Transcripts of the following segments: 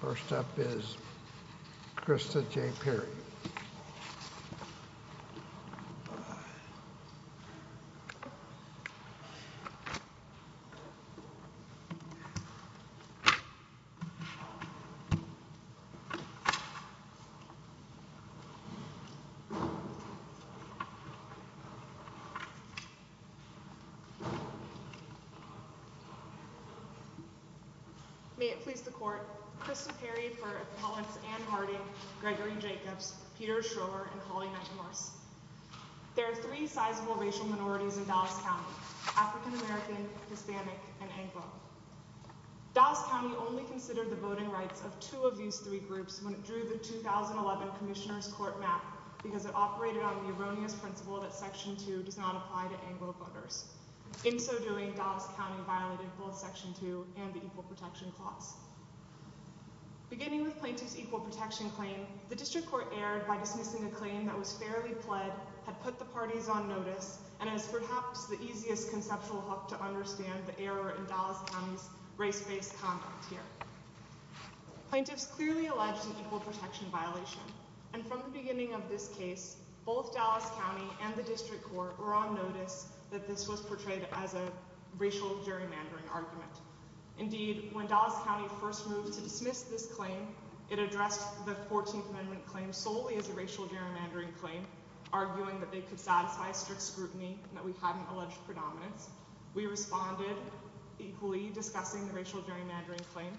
First up is Krista J. Peary. May it please the Court, Krista Peary for appellants Anne Harding, Gregory Jacobs, Peter Schroer, and Holly Metamorse. There are three sizable racial minorities in Dallas County, African American, Hispanic, and Anglo. Dallas County only considered the voting rights of two of these three groups when it drew the 2011 Commissioner's Court map because it operated on the erroneous principle that Section 2 does not apply to Anglo voters. In so doing, Dallas County violated both Section 2 and the Equal Protection Clause. Beginning with Plaintiff's Equal Protection Claim, the District Court erred by dismissing a claim that was fairly pled, had put the parties on notice, and is perhaps the easiest conceptual hook to understand the error in Dallas County's race-based conduct here. Plaintiffs clearly alleged an equal protection clause. that this was portrayed as a racial gerrymandering argument. Indeed, when Dallas County first moved to dismiss this claim, it addressed the Fourteenth Amendment claim solely as a racial gerrymandering claim, arguing that they could satisfy a strict scrutiny and that we hadn't alleged predominance. We responded, equally discussing the racial gerrymandering claim,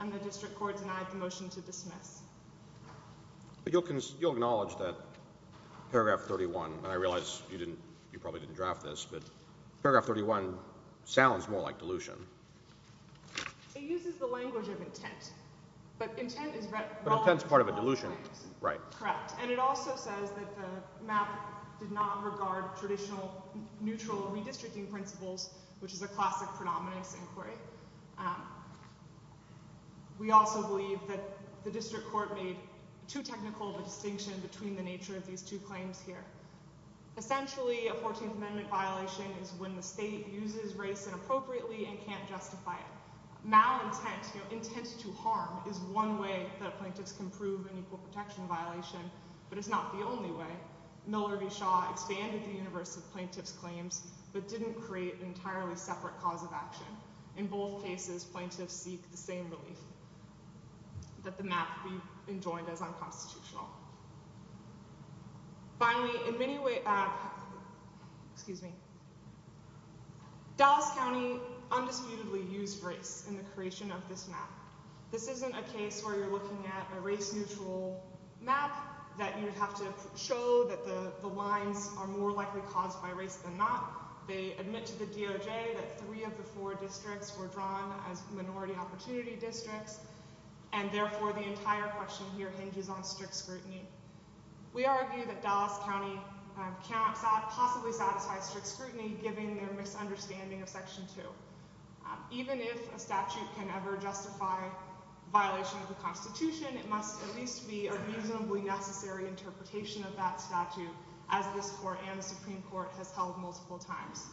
and the District Court denied the motion to dismiss. You'll acknowledge that Paragraph 31, and I realize you probably didn't draft this, but Paragraph 31 sounds more like dilution. It uses the language of intent, but intent is wrongly called intent. But intent is part of a dilution. Right. Correct. And it also says that the map did not regard traditional neutral redistricting principles, which is a classic predominance inquiry. We also believe that the District Court made too technical of a distinction between the nature of these two claims here. Essentially, a Fourteenth Amendment violation is when the state uses race inappropriately and can't justify it. Malintent, you know, intent to harm, is one way that a plaintiff can prove an equal protection violation, but it's not the only way. Miller v. Shaw expanded the universe of plaintiffs' claims, but didn't create an entirely separate cause of action. In both cases, plaintiffs seek the same relief, that the map be enjoined as unconstitutional. Finally, in many ways, excuse me, Dallas County undisputedly used race in the creation of this map. This isn't a case where you're looking at a race-neutral map that you would have to show that the lines are more likely caused by race than not. They admit to the DOJ that three of the four districts were drawn as minority opportunity districts, and therefore the entire question here hinges on strict scrutiny. We argue that Dallas County possibly satisfied strict scrutiny, given their misunderstanding of Section 2. Even if a statute can ever justify violation of the Constitution, it must at least be a reasonably necessary interpretation of that statute, as this Court and the Supreme Court have held multiple times.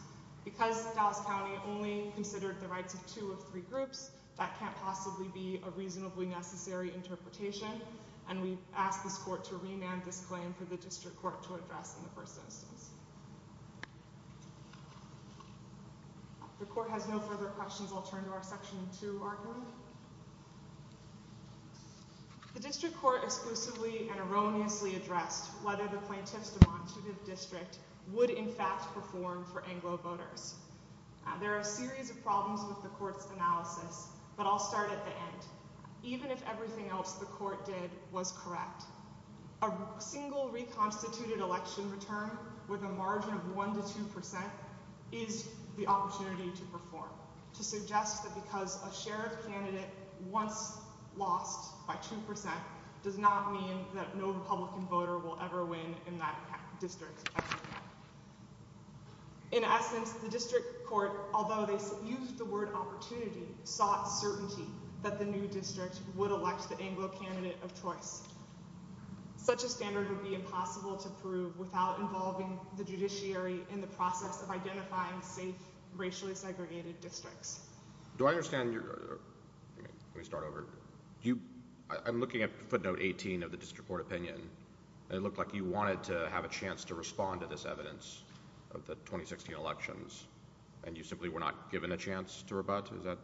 Because Dallas County only considered the rights of two of three groups, that can't possibly be a reasonably necessary interpretation, and we ask this Court to remand this claim for the District Court to address in the first instance. If the Court has no further questions, I'll turn to our Section 2 argument. The District Court exclusively and erroneously addressed whether the plaintiffs' demonstrative district would, in fact, perform for Anglo voters. There are a series of problems with the Court's analysis, but I'll start at the end. Even if everything else the Court did was correct, a single reconstituted election return with a margin of 1 to 2 percent is the opportunity to perform, to suggest that because a sheriff candidate once lost by 2 percent does not mean that no Republican voter will ever win in that district's election. In essence, the District Court, although they used the word opportunity, sought certainty that the new district would elect the Anglo candidate of choice. Such a standard would be impossible to prove without involving the judiciary in the process of identifying safe, racially segregated districts. Do I understand your—let me start over—I'm looking at footnote 18 of the District Court opinion, and it looked like you wanted to have a chance to respond to this evidence of the 2016 elections, and you simply were not given a chance to rebut? Is that—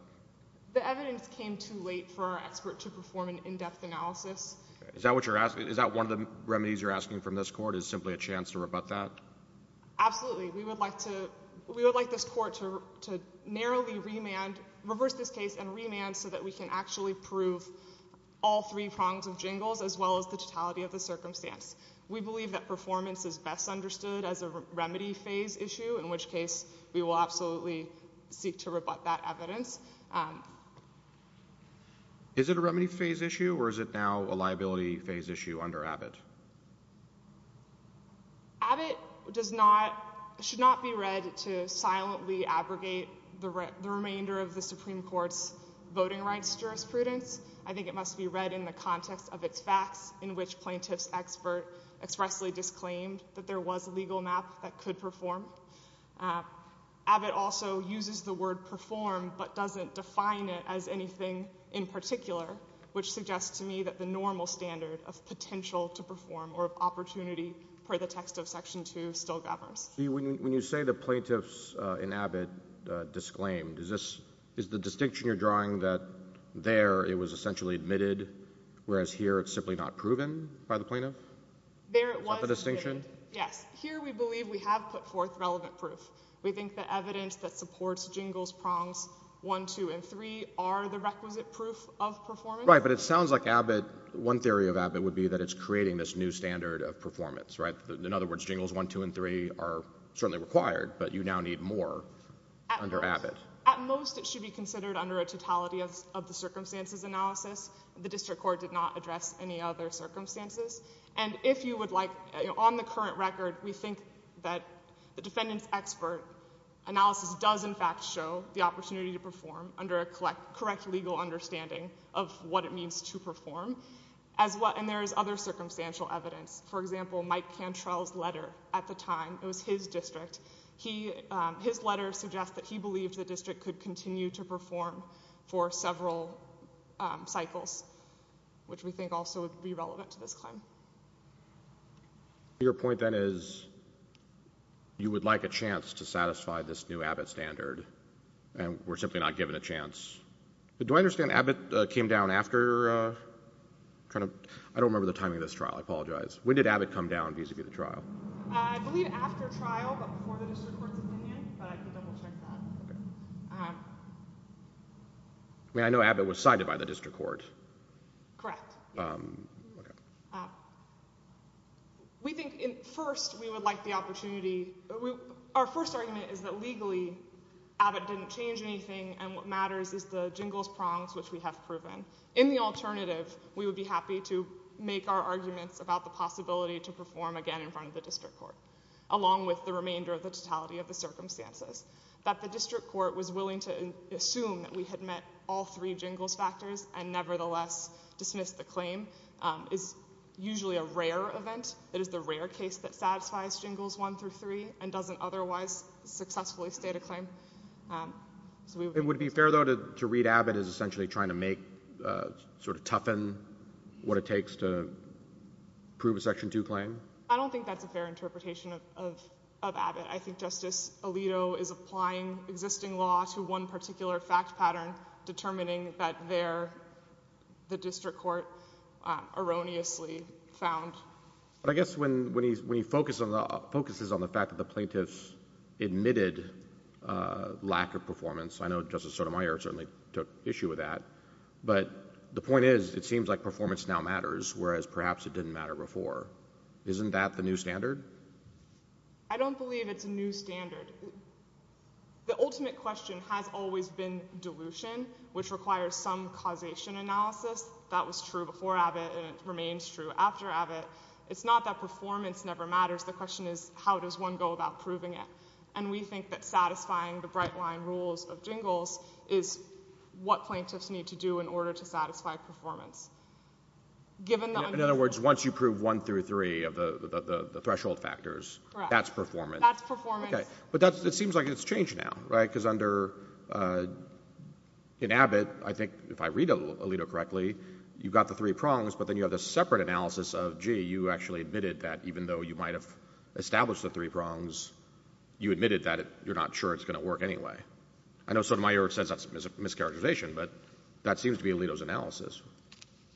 The evidence came too late for our expert to perform an in-depth analysis. Is that what you're asking? Is that one of the remedies you're asking from this Court, is simply a chance to rebut that? Absolutely. We would like to—we would like this Court to narrowly remand—reverse this case and we can actually prove all three prongs of jingles, as well as the totality of the circumstance. We believe that performance is best understood as a remedy phase issue, in which case we will absolutely seek to rebut that evidence. Is it a remedy phase issue, or is it now a liability phase issue under Abbott? Abbott does not—should not be read to silently abrogate the remainder of the Supreme Court's voting rights jurisprudence. I think it must be read in the context of its facts, in which plaintiffs' expert expressly disclaimed that there was a legal map that could perform. Abbott also uses the word perform, but doesn't define it as anything in particular, which suggests to me that the normal standard of potential to perform or of opportunity per the text of Section 2 still governs. When you say the plaintiffs in Abbott disclaimed, is this—is the distinction you're drawing that there it was essentially admitted, whereas here it's simply not proven by the plaintiff? There it was— Is that the distinction? Yes. Here we believe we have put forth relevant proof. We think the evidence that supports jingles, prongs 1, 2, and 3 are the requisite proof of performance. Right, but it sounds like Abbott—one theory of Abbott would be that it's creating this new standard of performance, right? In other words, jingles 1, 2, and 3 are certainly required, but you now need more under Abbott. At most, it should be considered under a totality of the circumstances analysis. The district court did not address any other circumstances. And if you would like, on the current record, we think that the defendants' expert analysis does in fact show the opportunity to perform under a correct legal understanding of what it means to perform, as well—and there is other circumstantial evidence. For example, Mike Cantrell's letter at the time—it was his district—his letter suggests that he believed the district could continue to perform for several cycles, which we think also would be relevant to this claim. Your point then is you would like a chance to satisfy this new Abbott standard, and we're simply not given a chance. Do I understand Abbott came down after kind of—I don't remember the timing of this When did Abbott come down vis-a-vis the trial? I believe after trial, but before the district court's opinion, but I can double-check that. I mean, I know Abbott was cited by the district court. Correct. We think, first, we would like the opportunity—our first argument is that legally, Abbott didn't change anything, and what matters is the jingles prongs, which we have proven. In the alternative, we would be happy to make our arguments about the possibility to perform again in front of the district court, along with the remainder of the totality of the circumstances. That the district court was willing to assume that we had met all three jingles factors and nevertheless dismissed the claim is usually a rare event. It is the rare case that satisfies jingles one through three and doesn't otherwise successfully state a claim. It would be fair, though, to read Abbott as essentially trying to make—sort of toughen what it takes to prove a Section 2 claim? I don't think that's a fair interpretation of Abbott. I think Justice Alito is applying existing law to one particular fact pattern, determining that the district court erroneously found— I guess when he focuses on the fact that the plaintiffs admitted lack of performance, I know Justice Sotomayor certainly took issue with that, but the point is, it seems like performance now matters, whereas perhaps it didn't matter before. Isn't that the new standard? I don't believe it's a new standard. The ultimate question has always been dilution, which requires some causation analysis. That was true before Abbott, and it remains true after Abbott. It's not that performance never matters. The question is, how does one go about proving it? And we think that satisfying the bright-line rules of jingles is what plaintiffs need to do in order to satisfy performance. In other words, once you prove one through three of the threshold factors, that's performance? Correct. That's performance. Okay. But it seems like it's changed now, right? Because under—in Abbott, I think, if I read Alito correctly, you've got the three prongs, but then you have this separate analysis of, gee, you actually admitted that even though you might have established the three prongs, you admitted that you're not sure it's going to work anyway. I know Sotomayor says that's a mischaracterization, but that seems to be Alito's analysis.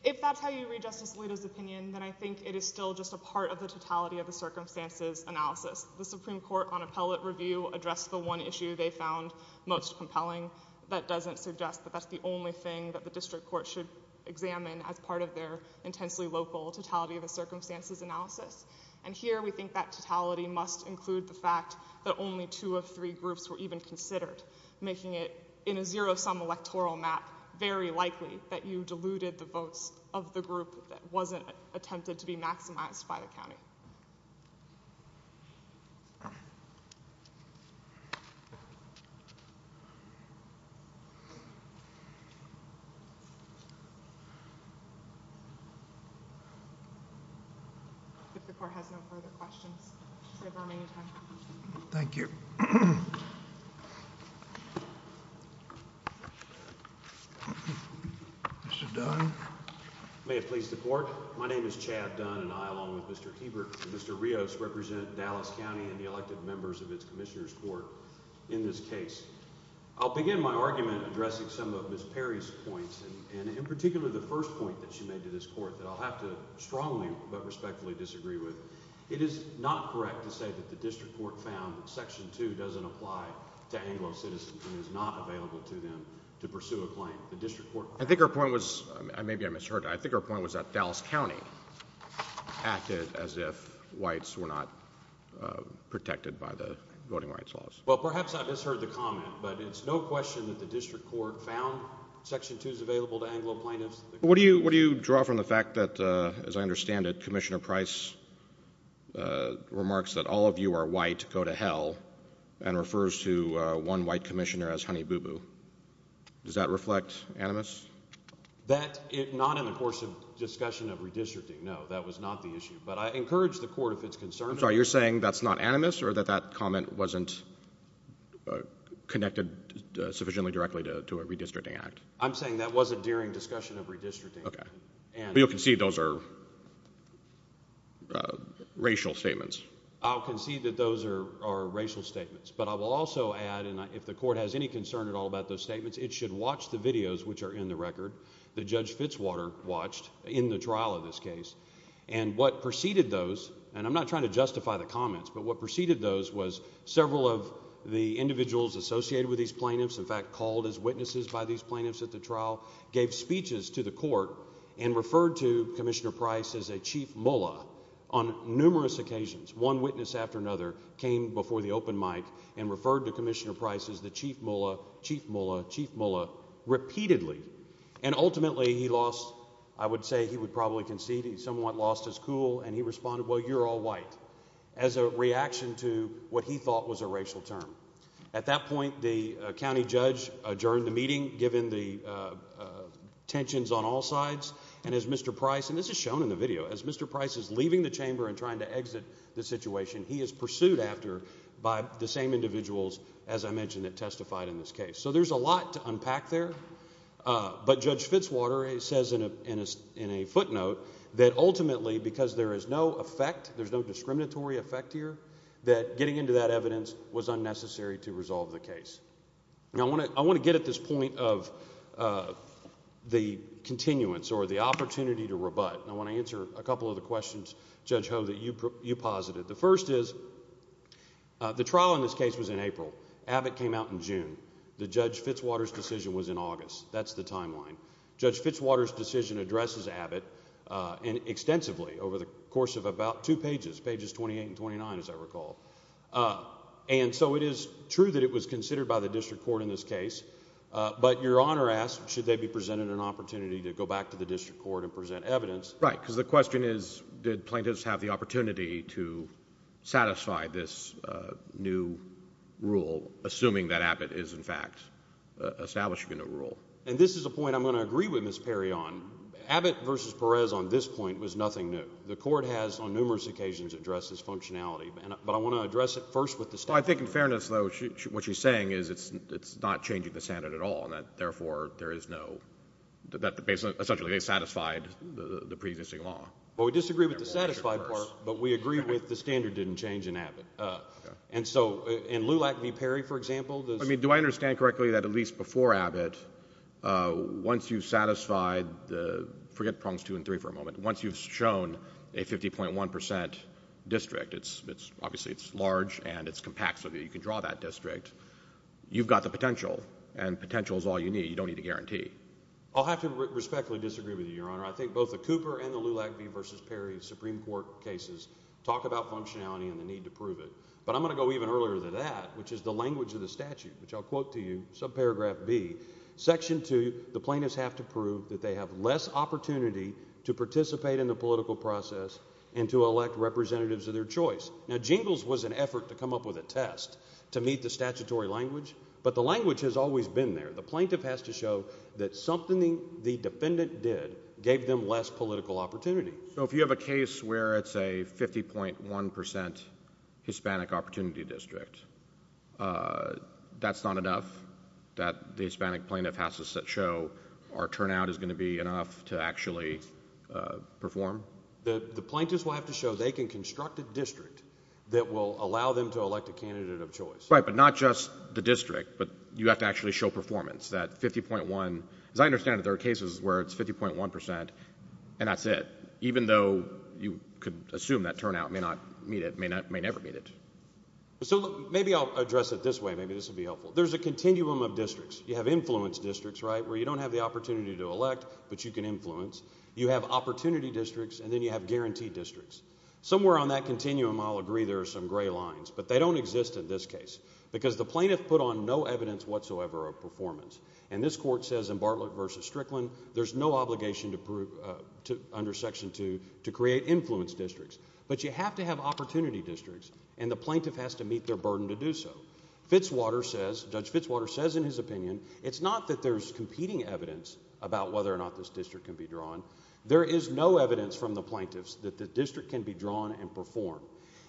If that's how you read Justice Alito's opinion, then I think it is still just a part of the totality of the circumstances analysis. The Supreme Court, on appellate review, addressed the one issue they found most compelling. That doesn't suggest that that's the only thing that the district court should examine as part of their intensely local totality of the circumstances analysis. And here we think that totality must include the fact that only two of three groups were even considered, making it, in a zero-sum electoral map, very likely that you diluted the votes of the group that wasn't attempted to be maximized by the county. If the court has no further questions, we have our remaining time. Thank you. Mr. Dunn. May it please the court. My name is Chad Dunn, and I, along with Mr. Hebert and Mr. Rios, represent Dallas County and the elected members of its Commissioner's Court in this case. I'll begin my argument addressing some of Ms. Perry's points, and in particular the first point that she made to this court, that I'll have to strongly but respectfully disagree with. It is not correct to say that the district court found that Section 2 doesn't apply to Anglo citizens and is not available to them to pursue a claim. The district court— I think her point was—maybe I misheard—I think her point was that Dallas County acted as if whites were not protected by the voting rights laws. Well, perhaps I misheard the comment, but it's no question that the district court found Section 2 is available to Anglo plaintiffs. What do you draw from the fact that, as I understand it, Commissioner Price remarks that all of you are white, go to hell, and refers to one white commissioner as honey boo boo? Does that reflect animus? That—not in the course of discussion of redistricting, no. That was not the issue. But I encourage the court, if it's concerned— I'm sorry, you're saying that's not animus, or that that comment wasn't connected sufficiently directly to a redistricting act? I'm saying that wasn't during discussion of redistricting. Okay. But you'll concede those are racial statements? I'll concede that those are racial statements, but I will also add, and if the court has any concern at all about those statements, it should watch the videos which are in the record that Judge Fitzwater watched in the trial of this case. And what preceded those—and I'm not trying to justify the comments— but what preceded those was several of the individuals associated with these plaintiffs, in fact called as witnesses by these plaintiffs at the trial, gave speeches to the court and referred to Commissioner Price as a chief mullah on numerous occasions. One witness after another came before the open mic and referred to Commissioner Price as the chief mullah, chief mullah, chief mullah, repeatedly. And ultimately he lost—I would say he would probably concede he somewhat lost his cool, and he responded, well, you're all white, as a reaction to what he thought was a racial term. At that point, the county judge adjourned the meeting, given the tensions on all sides, and as Mr. Price—and this is shown in the video—as Mr. Price is leaving the chamber and trying to exit the situation, he is pursued after by the same individuals, as I mentioned, that testified in this case. So there's a lot to unpack there, but Judge Fitzwater says in a footnote that ultimately because there is no effect, there's no discriminatory effect here, that getting into that evidence was unnecessary to resolve the case. Now I want to get at this point of the continuance or the opportunity to rebut, and I want to answer a couple of the questions, Judge Ho, that you posited. The first is the trial in this case was in April. Abbott came out in June. The Judge Fitzwater's decision was in August. That's the timeline. Judge Fitzwater's decision addresses Abbott extensively over the course of about two pages, pages 28 and 29, as I recall. And so it is true that it was considered by the district court in this case, but Your Honor asks should they be presented an opportunity to go back to the district court and present evidence. Right, because the question is did plaintiffs have the opportunity to satisfy this new rule, assuming that Abbott is, in fact, establishing a new rule. And this is a point I'm going to agree with Ms. Perry on. Abbott v. Perez on this point was nothing new. The court has on numerous occasions addressed this functionality, but I want to address it first with the standard. Well, I think in fairness, though, what she's saying is it's not changing the standard at all and that therefore there is no – that essentially they satisfied the preexisting law. Well, we disagree with the satisfied part, but we agree with the standard didn't change in Abbott. And so in Lulac v. Perry, for example, does – I mean, do I understand correctly that at least before Abbott, once you've satisfied – forget prongs two and three for a moment – once you've shown a 50.1 percent district, obviously it's large and it's compact so that you can draw that district, you've got the potential and potential is all you need. You don't need a guarantee. I'll have to respectfully disagree with you, Your Honor. I think both the Cooper and the Lulac v. Perry Supreme Court cases talk about functionality and the need to prove it. But I'm going to go even earlier than that, which is the language of the statute, which I'll quote to you, subparagraph B, section two, the plaintiffs have to prove that they have less opportunity to participate in the political process and to elect representatives of their choice. Now, Jingles was an effort to come up with a test to meet the statutory language, but the language has always been there. The plaintiff has to show that something the defendant did gave them less political opportunity. So if you have a case where it's a 50.1 percent Hispanic opportunity district, that's not enough? That the Hispanic plaintiff has to show our turnout is going to be enough to actually perform? The plaintiffs will have to show they can construct a district that will allow them to elect a candidate of choice. Right, but not just the district, but you have to actually show performance, that 50.1. As I understand it, there are cases where it's 50.1 percent and that's it, even though you could assume that turnout may not meet it, may never meet it. So maybe I'll address it this way, maybe this will be helpful. There's a continuum of districts. You have influence districts, right, where you don't have the opportunity to elect, but you can influence. You have opportunity districts, and then you have guaranteed districts. Somewhere on that continuum, I'll agree there are some gray lines, but they don't exist in this case because the plaintiff put on no evidence whatsoever of performance. And this court says in Bartlett v. Strickland, there's no obligation under section two to create influence districts. But you have to have opportunity districts, and the plaintiff has to meet their burden to do so. Fitzwater says, Judge Fitzwater says in his opinion, it's not that there's competing evidence about whether or not this district can be drawn. There is no evidence from the plaintiffs that the district can be drawn and performed.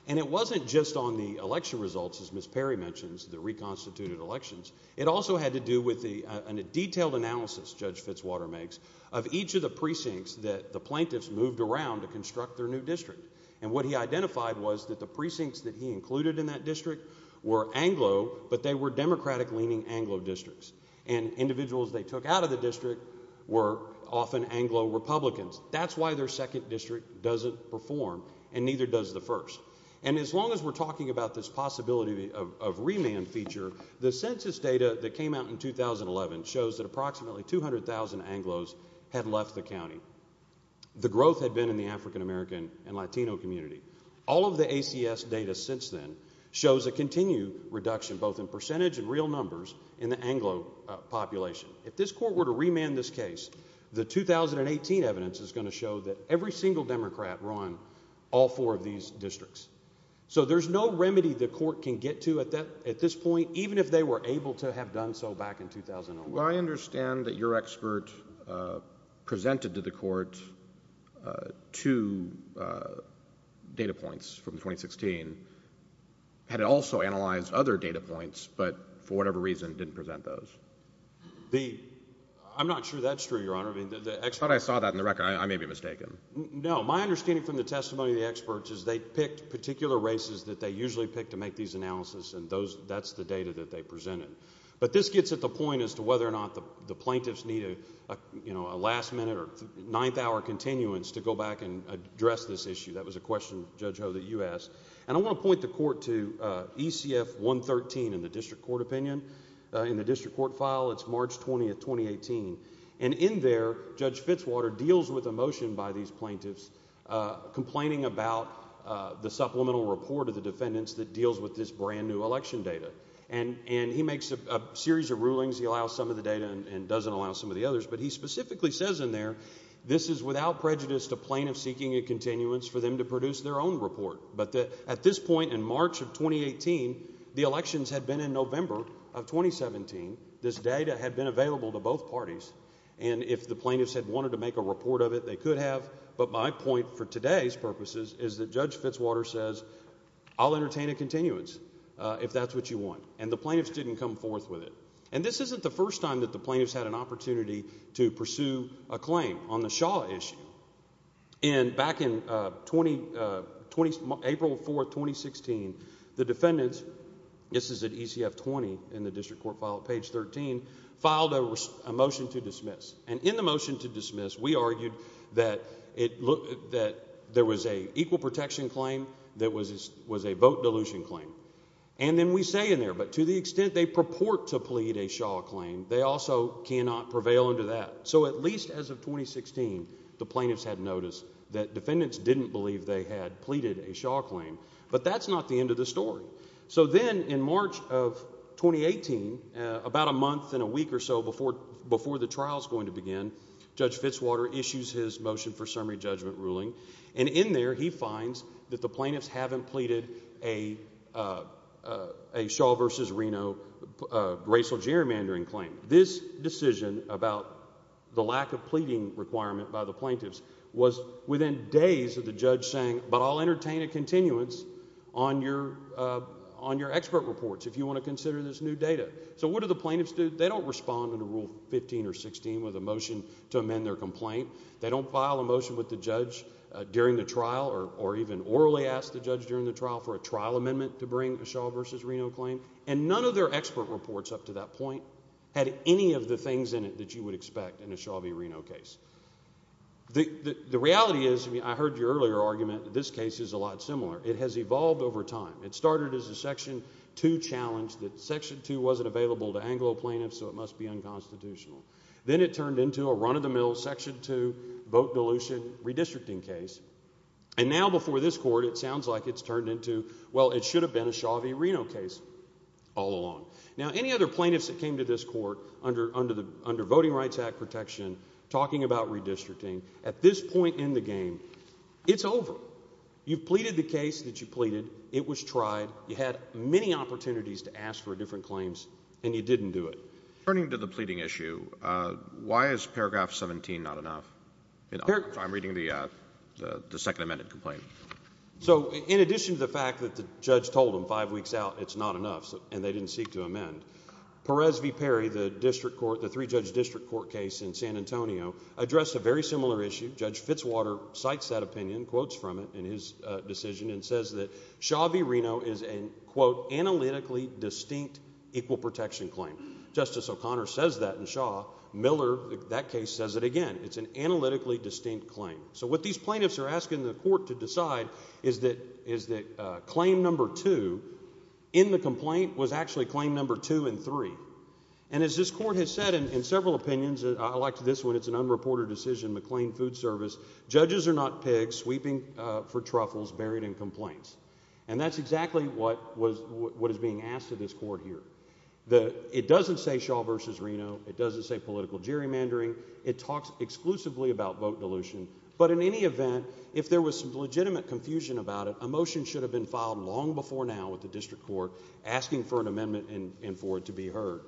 And it wasn't just on the election results, as Ms. Perry mentions, the reconstituted elections. It also had to do with a detailed analysis, Judge Fitzwater makes, of each of the precincts that the plaintiffs moved around to construct their new district. And what he identified was that the precincts that he included in that district were Anglo, but they were Democratic-leaning Anglo districts. And individuals they took out of the district were often Anglo Republicans. That's why their second district doesn't perform, and neither does the first. And as long as we're talking about this possibility of remand feature, the census data that came out in 2011 shows that approximately 200,000 Anglos had left the county. The growth had been in the African-American and Latino community. All of the ACS data since then shows a continued reduction, both in percentage and real numbers, in the Anglo population. If this court were to remand this case, the 2018 evidence is going to show that every single Democrat run all four of these districts. So there's no remedy the court can get to at this point, even if they were able to have done so back in 2011. Well, I understand that your expert presented to the court two data points from 2016. Had it also analyzed other data points, but for whatever reason didn't present those? I'm not sure that's true, Your Honor. I thought I saw that in the record. I may be mistaken. No. My understanding from the testimony of the experts is they picked particular races that they usually pick to make these analyses, and that's the data that they presented. But this gets at the point as to whether or not the plaintiffs need a last-minute or ninth-hour continuance to go back and address this issue. That was a question, Judge Ho, that you asked. And I want to point the court to ECF 113 in the district court opinion. In the district court file, it's March 20, 2018. And in there, Judge Fitzwater deals with a motion by these plaintiffs complaining about the supplemental report of the defendants that deals with this brand-new election data. And he makes a series of rulings. He allows some of the data and doesn't allow some of the others. But he specifically says in there this is without prejudice to plaintiffs seeking a continuance for them to produce their own report. But at this point in March of 2018, the elections had been in November of 2017. This data had been available to both parties. And if the plaintiffs had wanted to make a report of it, they could have. But my point for today's purposes is that Judge Fitzwater says, I'll entertain a continuance if that's what you want. And the plaintiffs didn't come forth with it. And this isn't the first time that the plaintiffs had an opportunity to pursue a claim on the Shaw issue. And back in April 4, 2016, the defendants, this is at ECF 20 in the district court file at page 13, filed a motion to dismiss. And in the motion to dismiss, we argued that there was an equal protection claim that was a vote dilution claim. And then we say in there, but to the extent they purport to plead a Shaw claim, they also cannot prevail under that. So at least as of 2016, the plaintiffs had noticed that defendants didn't believe they had pleaded a Shaw claim. But that's not the end of the story. So then in March of 2018, about a month and a week or so before the trial is going to begin, Judge Fitzwater issues his motion for summary judgment ruling. And in there he finds that the plaintiffs haven't pleaded a Shaw v. Reno racial gerrymandering claim. This decision about the lack of pleading requirement by the plaintiffs was within days of the judge saying, but I'll entertain a continuance on your expert reports if you want to consider this new data. So what do the plaintiffs do? They don't respond under Rule 15 or 16 with a motion to amend their complaint. They don't file a motion with the judge during the trial or even orally ask the judge during the trial for a trial amendment to bring a Shaw v. Reno claim. And none of their expert reports up to that point had any of the things in it that you would expect in a Shaw v. Reno case. The reality is, I heard your earlier argument that this case is a lot similar. It has evolved over time. It started as a Section 2 challenge that Section 2 wasn't available to Anglo plaintiffs, so it must be unconstitutional. Then it turned into a run-of-the-mill Section 2 vote dilution redistricting case. And now before this court, it sounds like it's turned into, well, it should have been a Shaw v. Reno case all along. Now any other plaintiffs that came to this court under Voting Rights Act protection talking about redistricting, at this point in the game, it's over. You've pleaded the case that you pleaded. It was tried. You had many opportunities to ask for different claims, and you didn't do it. Turning to the pleading issue, why is paragraph 17 not enough? I'm reading the second amended complaint. So in addition to the fact that the judge told them five weeks out it's not enough and they didn't seek to amend, Perez v. Perry, the three-judge district court case in San Antonio, addressed a very similar issue. Judge Fitzwater cites that opinion, quotes from it in his decision, and says that Shaw v. Reno is an, quote, analytically distinct equal protection claim. Justice O'Connor says that in Shaw. Miller, that case, says it again. It's an analytically distinct claim. So what these plaintiffs are asking the court to decide is that claim number two in the complaint was actually claim number two and three. And as this court has said in several opinions, I like this one. It's an unreported decision, McLean Food Service. Judges are not pigs sweeping for truffles buried in complaints. And that's exactly what is being asked of this court here. It doesn't say Shaw v. Reno. It doesn't say political gerrymandering. It talks exclusively about vote dilution. But in any event, if there was some legitimate confusion about it, a motion should have been filed long before now with the district court asking for an amendment and for it to be heard.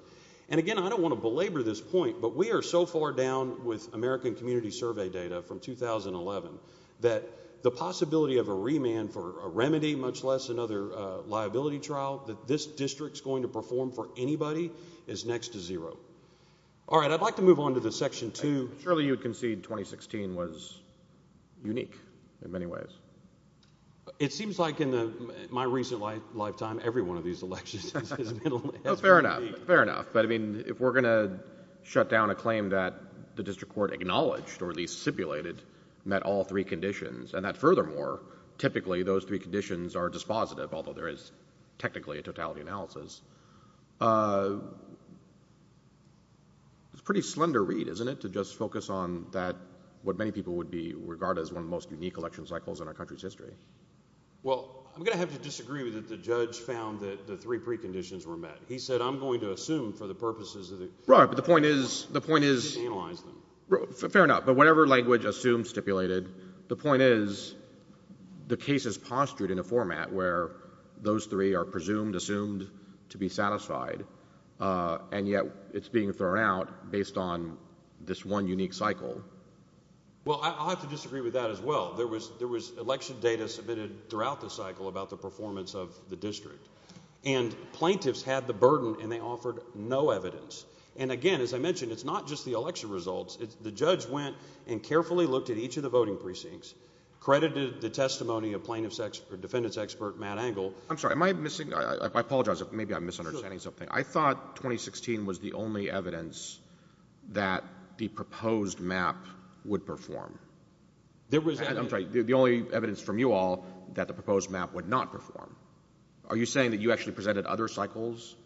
And again, I don't want to belabor this point, but we are so far down with American Community Survey data from 2011 that the possibility of a remand for a remedy, much less another liability trial, that this district is going to perform for anybody is next to zero. All right, I'd like to move on to the Section 2. Surely you concede 2016 was unique in many ways. It seems like in my recent lifetime every one of these elections has been unique. Fair enough. Fair enough. But, I mean, if we're going to shut down a claim that the district court acknowledged or at least stipulated met all three conditions and that furthermore typically those three conditions are dispositive, although there is technically a totality analysis, it's a pretty slender read, isn't it, to just focus on that, what many people would regard as one of the most unique election cycles in our country's history. Well, I'm going to have to disagree with it. He said, I'm going to assume for the purposes of the... Right, but the point is... I didn't analyze them. Fair enough. But whatever language assumed, stipulated, the point is the case is postured in a format where those three are presumed, assumed to be satisfied, and yet it's being thrown out based on this one unique cycle. Well, I'll have to disagree with that as well. There was election data submitted throughout the cycle about the performance of the district, and plaintiffs had the burden and they offered no evidence. And again, as I mentioned, it's not just the election results. The judge went and carefully looked at each of the voting precincts, credited the testimony of plaintiff's or defendant's expert, Matt Engel. I'm sorry, am I missing... I apologize if maybe I'm misunderstanding something. I thought 2016 was the only evidence that the proposed map would perform. There was... I'm sorry, the only evidence from you all that the proposed map would not perform. Are you saying that you actually presented other cycles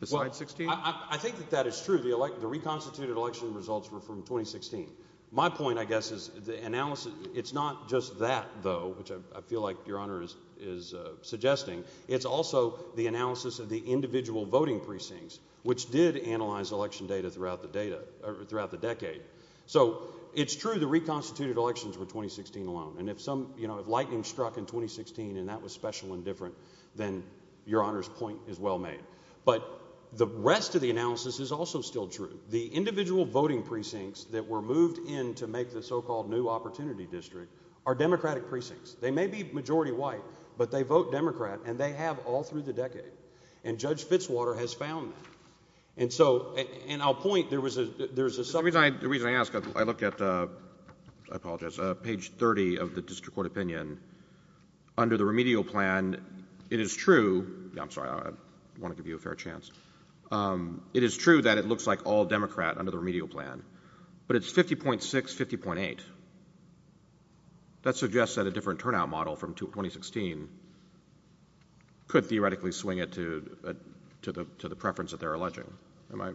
besides 2016? Well, I think that that is true. The reconstituted election results were from 2016. My point, I guess, is the analysis... It's not just that, though, which I feel like Your Honor is suggesting. It's also the analysis of the individual voting precincts, which did analyze election data throughout the decade. So it's true the reconstituted elections were 2016 alone. And if lightning struck in 2016 and that was special and different, then Your Honor's point is well made. But the rest of the analysis is also still true. The individual voting precincts that were moved in to make the so-called New Opportunity District are Democratic precincts. They may be majority white, but they vote Democrat, and they have all through the decade. And Judge Fitzwater has found that. And so, and I'll point, there was a... Under the remedial plan, it is true... I'm sorry, I want to give you a fair chance. It is true that it looks like all Democrat under the remedial plan. But it's 50.6, 50.8. That suggests that a different turnout model from 2016 could theoretically swing it to the preference that they're alleging. Am I...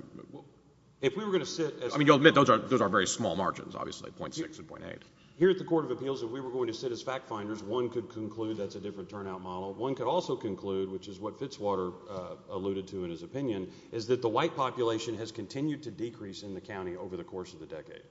If we were going to sit... I mean, you'll admit those are very small margins, obviously, 0.6 and 0.8. Here at the Court of Appeals, if we were going to sit as fact finders, one could conclude that's a different turnout model. One could also conclude, which is what Fitzwater alluded to in his opinion, is that the white population has continued to decrease in the county over the course of the decade.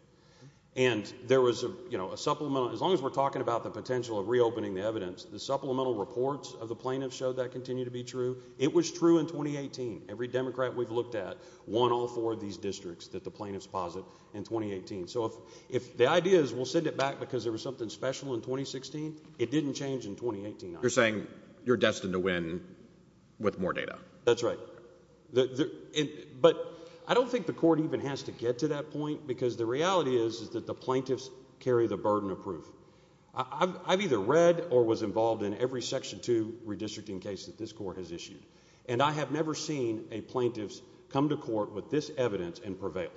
And there was a supplemental... As long as we're talking about the potential of reopening the evidence, the supplemental reports of the plaintiffs show that continue to be true. It was true in 2018. Every Democrat we've looked at won all four of these districts that the plaintiffs posit in 2018. So if the idea is we'll send it back because there was something special in 2016, it didn't change in 2018. You're saying you're destined to win with more data. That's right. But I don't think the court even has to get to that point because the reality is that the plaintiffs carry the burden of proof. I've either read or was involved in every Section 2 redistricting case that this court has issued, and I have never seen a plaintiff come to court with this evidence and prevail.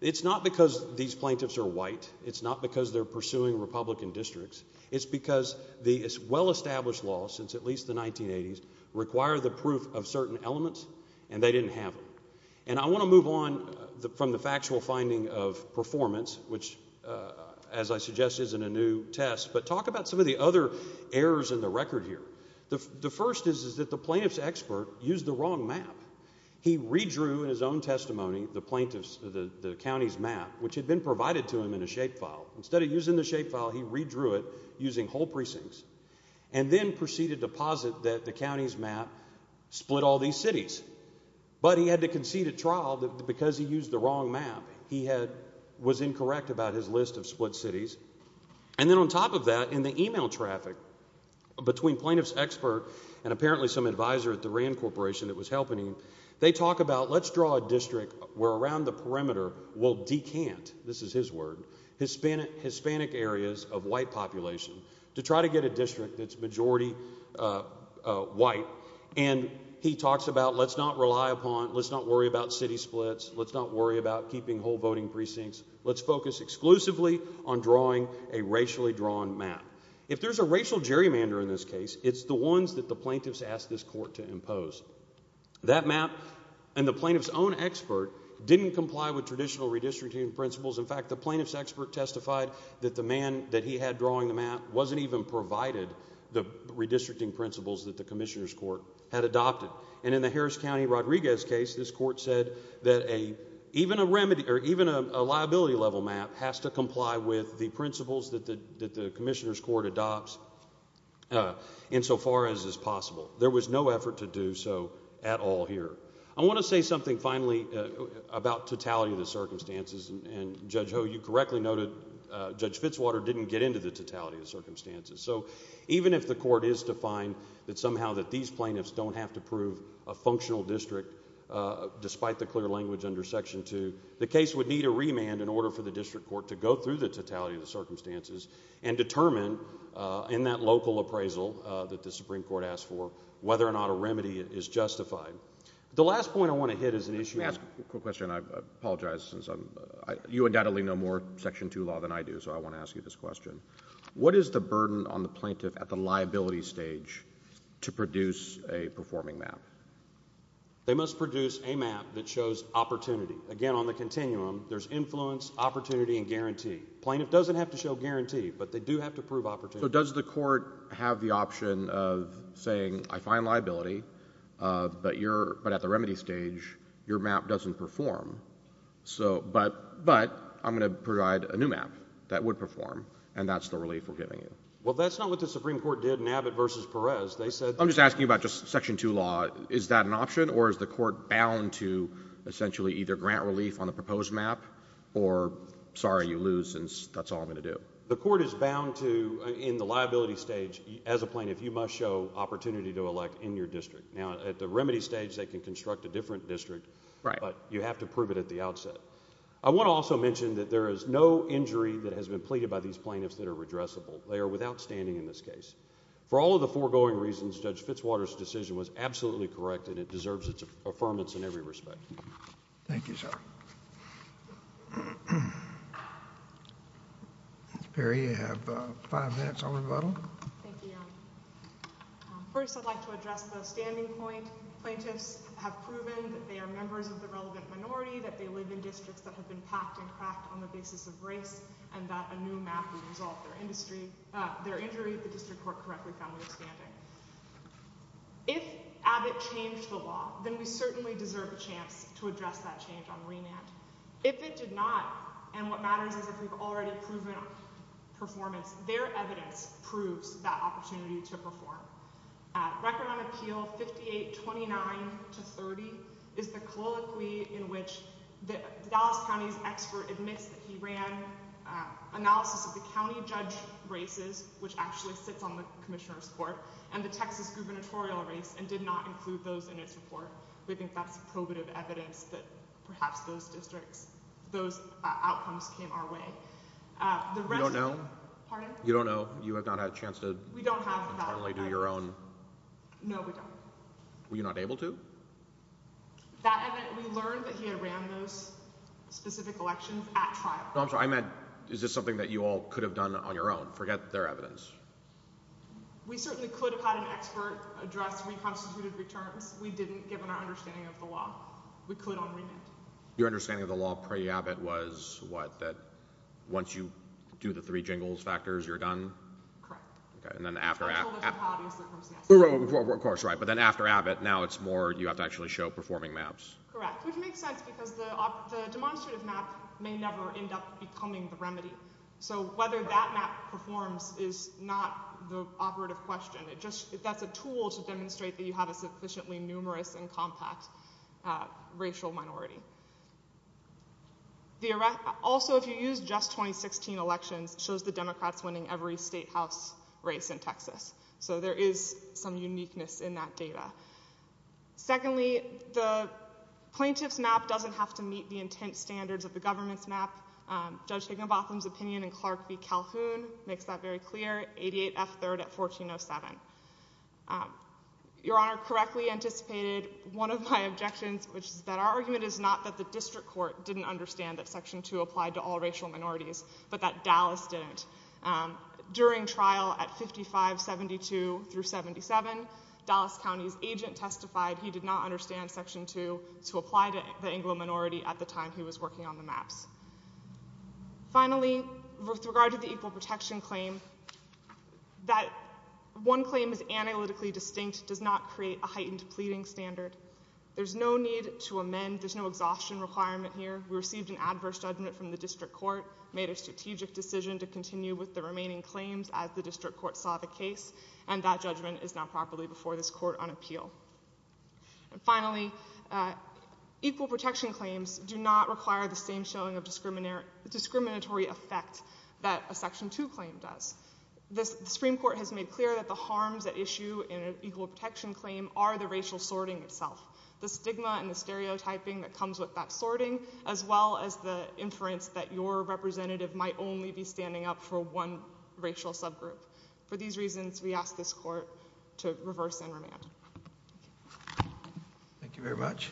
It's not because these plaintiffs are white. It's not because they're pursuing Republican districts. It's because the well-established law since at least the 1980s required the proof of certain elements, and they didn't have it. And I want to move on from the factual finding of performance, which, as I suggested, isn't a new test, but talk about some of the other errors in the record here. The first is that the plaintiff's expert used the wrong map. He redrew in his own testimony the county's map, which had been provided to him in a shapefile. Instead of using the shapefile, he redrew it using whole precincts and then proceeded to posit that the county's map split all these cities. But he had to concede at trial because he used the wrong map. He was incorrect about his list of split cities. And then on top of that, in the e-mail traffic between plaintiff's expert and apparently some advisor at the Rand Corporation that was helping him, they talk about let's draw a district where around the perimeter we'll decant, this is his word, Hispanic areas of white population to try to get a district that's majority white. And he talks about let's not rely upon, let's not worry about city splits, let's not worry about keeping whole voting precincts, let's focus exclusively on drawing a racially drawn map. If there's a racial gerrymander in this case, it's the ones that the plaintiffs asked this court to impose. That map and the plaintiff's own expert didn't comply with traditional redistricting principles. In fact, the plaintiff's expert testified that the man that he had drawing the map wasn't even provided the redistricting principles that the commissioner's court had adopted. And in the Harris County Rodriguez case, this court said that even a liability-level map has to comply with the principles that the commissioner's court adopts insofar as is possible. There was no effort to do so at all here. I want to say something finally about totality of the circumstances, and Judge Ho, you correctly noted Judge Fitzwater didn't get into the totality of the circumstances. So even if the court is to find that somehow that these plaintiffs don't have to prove a functional district, despite the clear language under Section 2, the case would need a remand in order for the district court to go through the totality of the circumstances and determine in that local appraisal that the Supreme Court asked for whether or not a remedy is justified. The last point I want to hit is an issue... Let me ask a quick question. I apologize. You undoubtedly know more Section 2 law than I do, so I want to ask you this question. What is the burden on the plaintiff at the liability stage to produce a performing map? They must produce a map that shows opportunity. Again, on the continuum, there's influence, opportunity, and guarantee. Plaintiff doesn't have to show guarantee, but they do have to prove opportunity. So does the court have the option of saying, I find liability, but at the remedy stage, your map doesn't perform, but I'm going to provide a new map that would perform, and that's the relief we're giving you? Well, that's not what the Supreme Court did in Abbott v. Perez. I'm just asking about just Section 2 law. Is that an option, or is the court bound to essentially either grant relief on the proposed map, or sorry, you lose, and that's all I'm going to do? The court is bound to, in the liability stage, as a plaintiff, you must show opportunity to elect in your district. Now, at the remedy stage, they can construct a different district, but you have to prove it at the outset. I want to also mention that there is no injury that has been pleaded by these plaintiffs that are redressable. They are without standing in this case. For all of the foregoing reasons, Judge Fitzwater's decision was absolutely correct, and it deserves its affirmance in every respect. Thank you, sir. Ms. Perry, you have five minutes on rebuttal. Thank you, Your Honor. First, I'd like to address the standing point. Plaintiffs have proven that they are members of the relevant minority, that they live in districts that have been packed and cracked on the basis of race, and that a new map would resolve their injury if the district court correctly found their standing. If Abbott changed the law, then we certainly deserve a chance to address that change on remand. If it did not, and what matters is if we've already proven performance, their evidence proves that opportunity to perform. Record on Appeal 5829-30 is the colloquy in which the Dallas County's expert admits that he ran analysis of the county judge races, which actually sits on the Commissioner's Court, and the Texas gubernatorial race, and did not include those in its report. We think that's probative evidence that perhaps those outcomes came our way. You don't know? Pardon? You don't know? You have not had a chance to internally do your own... No, we don't. Were you not able to? We learned that he had ran those specific elections at trial. No, I'm sorry. I meant, is this something that you all could have done on your own? Forget their evidence. We certainly could have had an expert address reconstituted returns. We didn't, given our understanding of the law. We could on remand. Your understanding of the law pre-Abbott was what, that once you do the three jingles factors, you're done? Correct. Okay, and then after... I'm told that's not how it is. Of course, right, but then after Abbott, now it's more you have to actually show performing maps. Correct, which makes sense, because the demonstrative map may never end up becoming the remedy. So whether that map performs is not the operative question. That's a tool to demonstrate that you have a sufficiently numerous and compact racial minority. Also, if you use just 2016 elections, it shows the Democrats winning every state house race in Texas. So there is some uniqueness in that data. Secondly, the plaintiff's map doesn't have to meet the intent standards of the government's map. Judge Higginbotham's opinion in Clark v. Calhoun makes that very clear, 88F3rd at 1407. Your Honor, correctly anticipated one of my objections, which is that our argument is not that the district court didn't understand that Section 2 applied to all racial minorities, but that Dallas didn't. During trial at 5572 through 77, Dallas County's agent testified he did not understand Section 2 to apply to the Anglo minority at the time he was working on the maps. Finally, with regard to the equal protection claim, that one claim is analytically distinct does not create a heightened pleading standard. There's no need to amend, there's no exhaustion requirement here. We received an adverse judgment from the district court, made a strategic decision to continue with the remaining claims as the district court saw the case, and that judgment is now properly before this court on appeal. And finally, equal protection claims do not require the same showing of discriminatory effect that a Section 2 claim does. The Supreme Court has made clear that the harms at issue in an equal protection claim are the racial sorting itself, the stigma and the stereotyping that comes with that sorting, as well as the inference that your representative might only be standing up for one racial subgroup. For these reasons, we ask this court to reverse and remand. Thank you very much.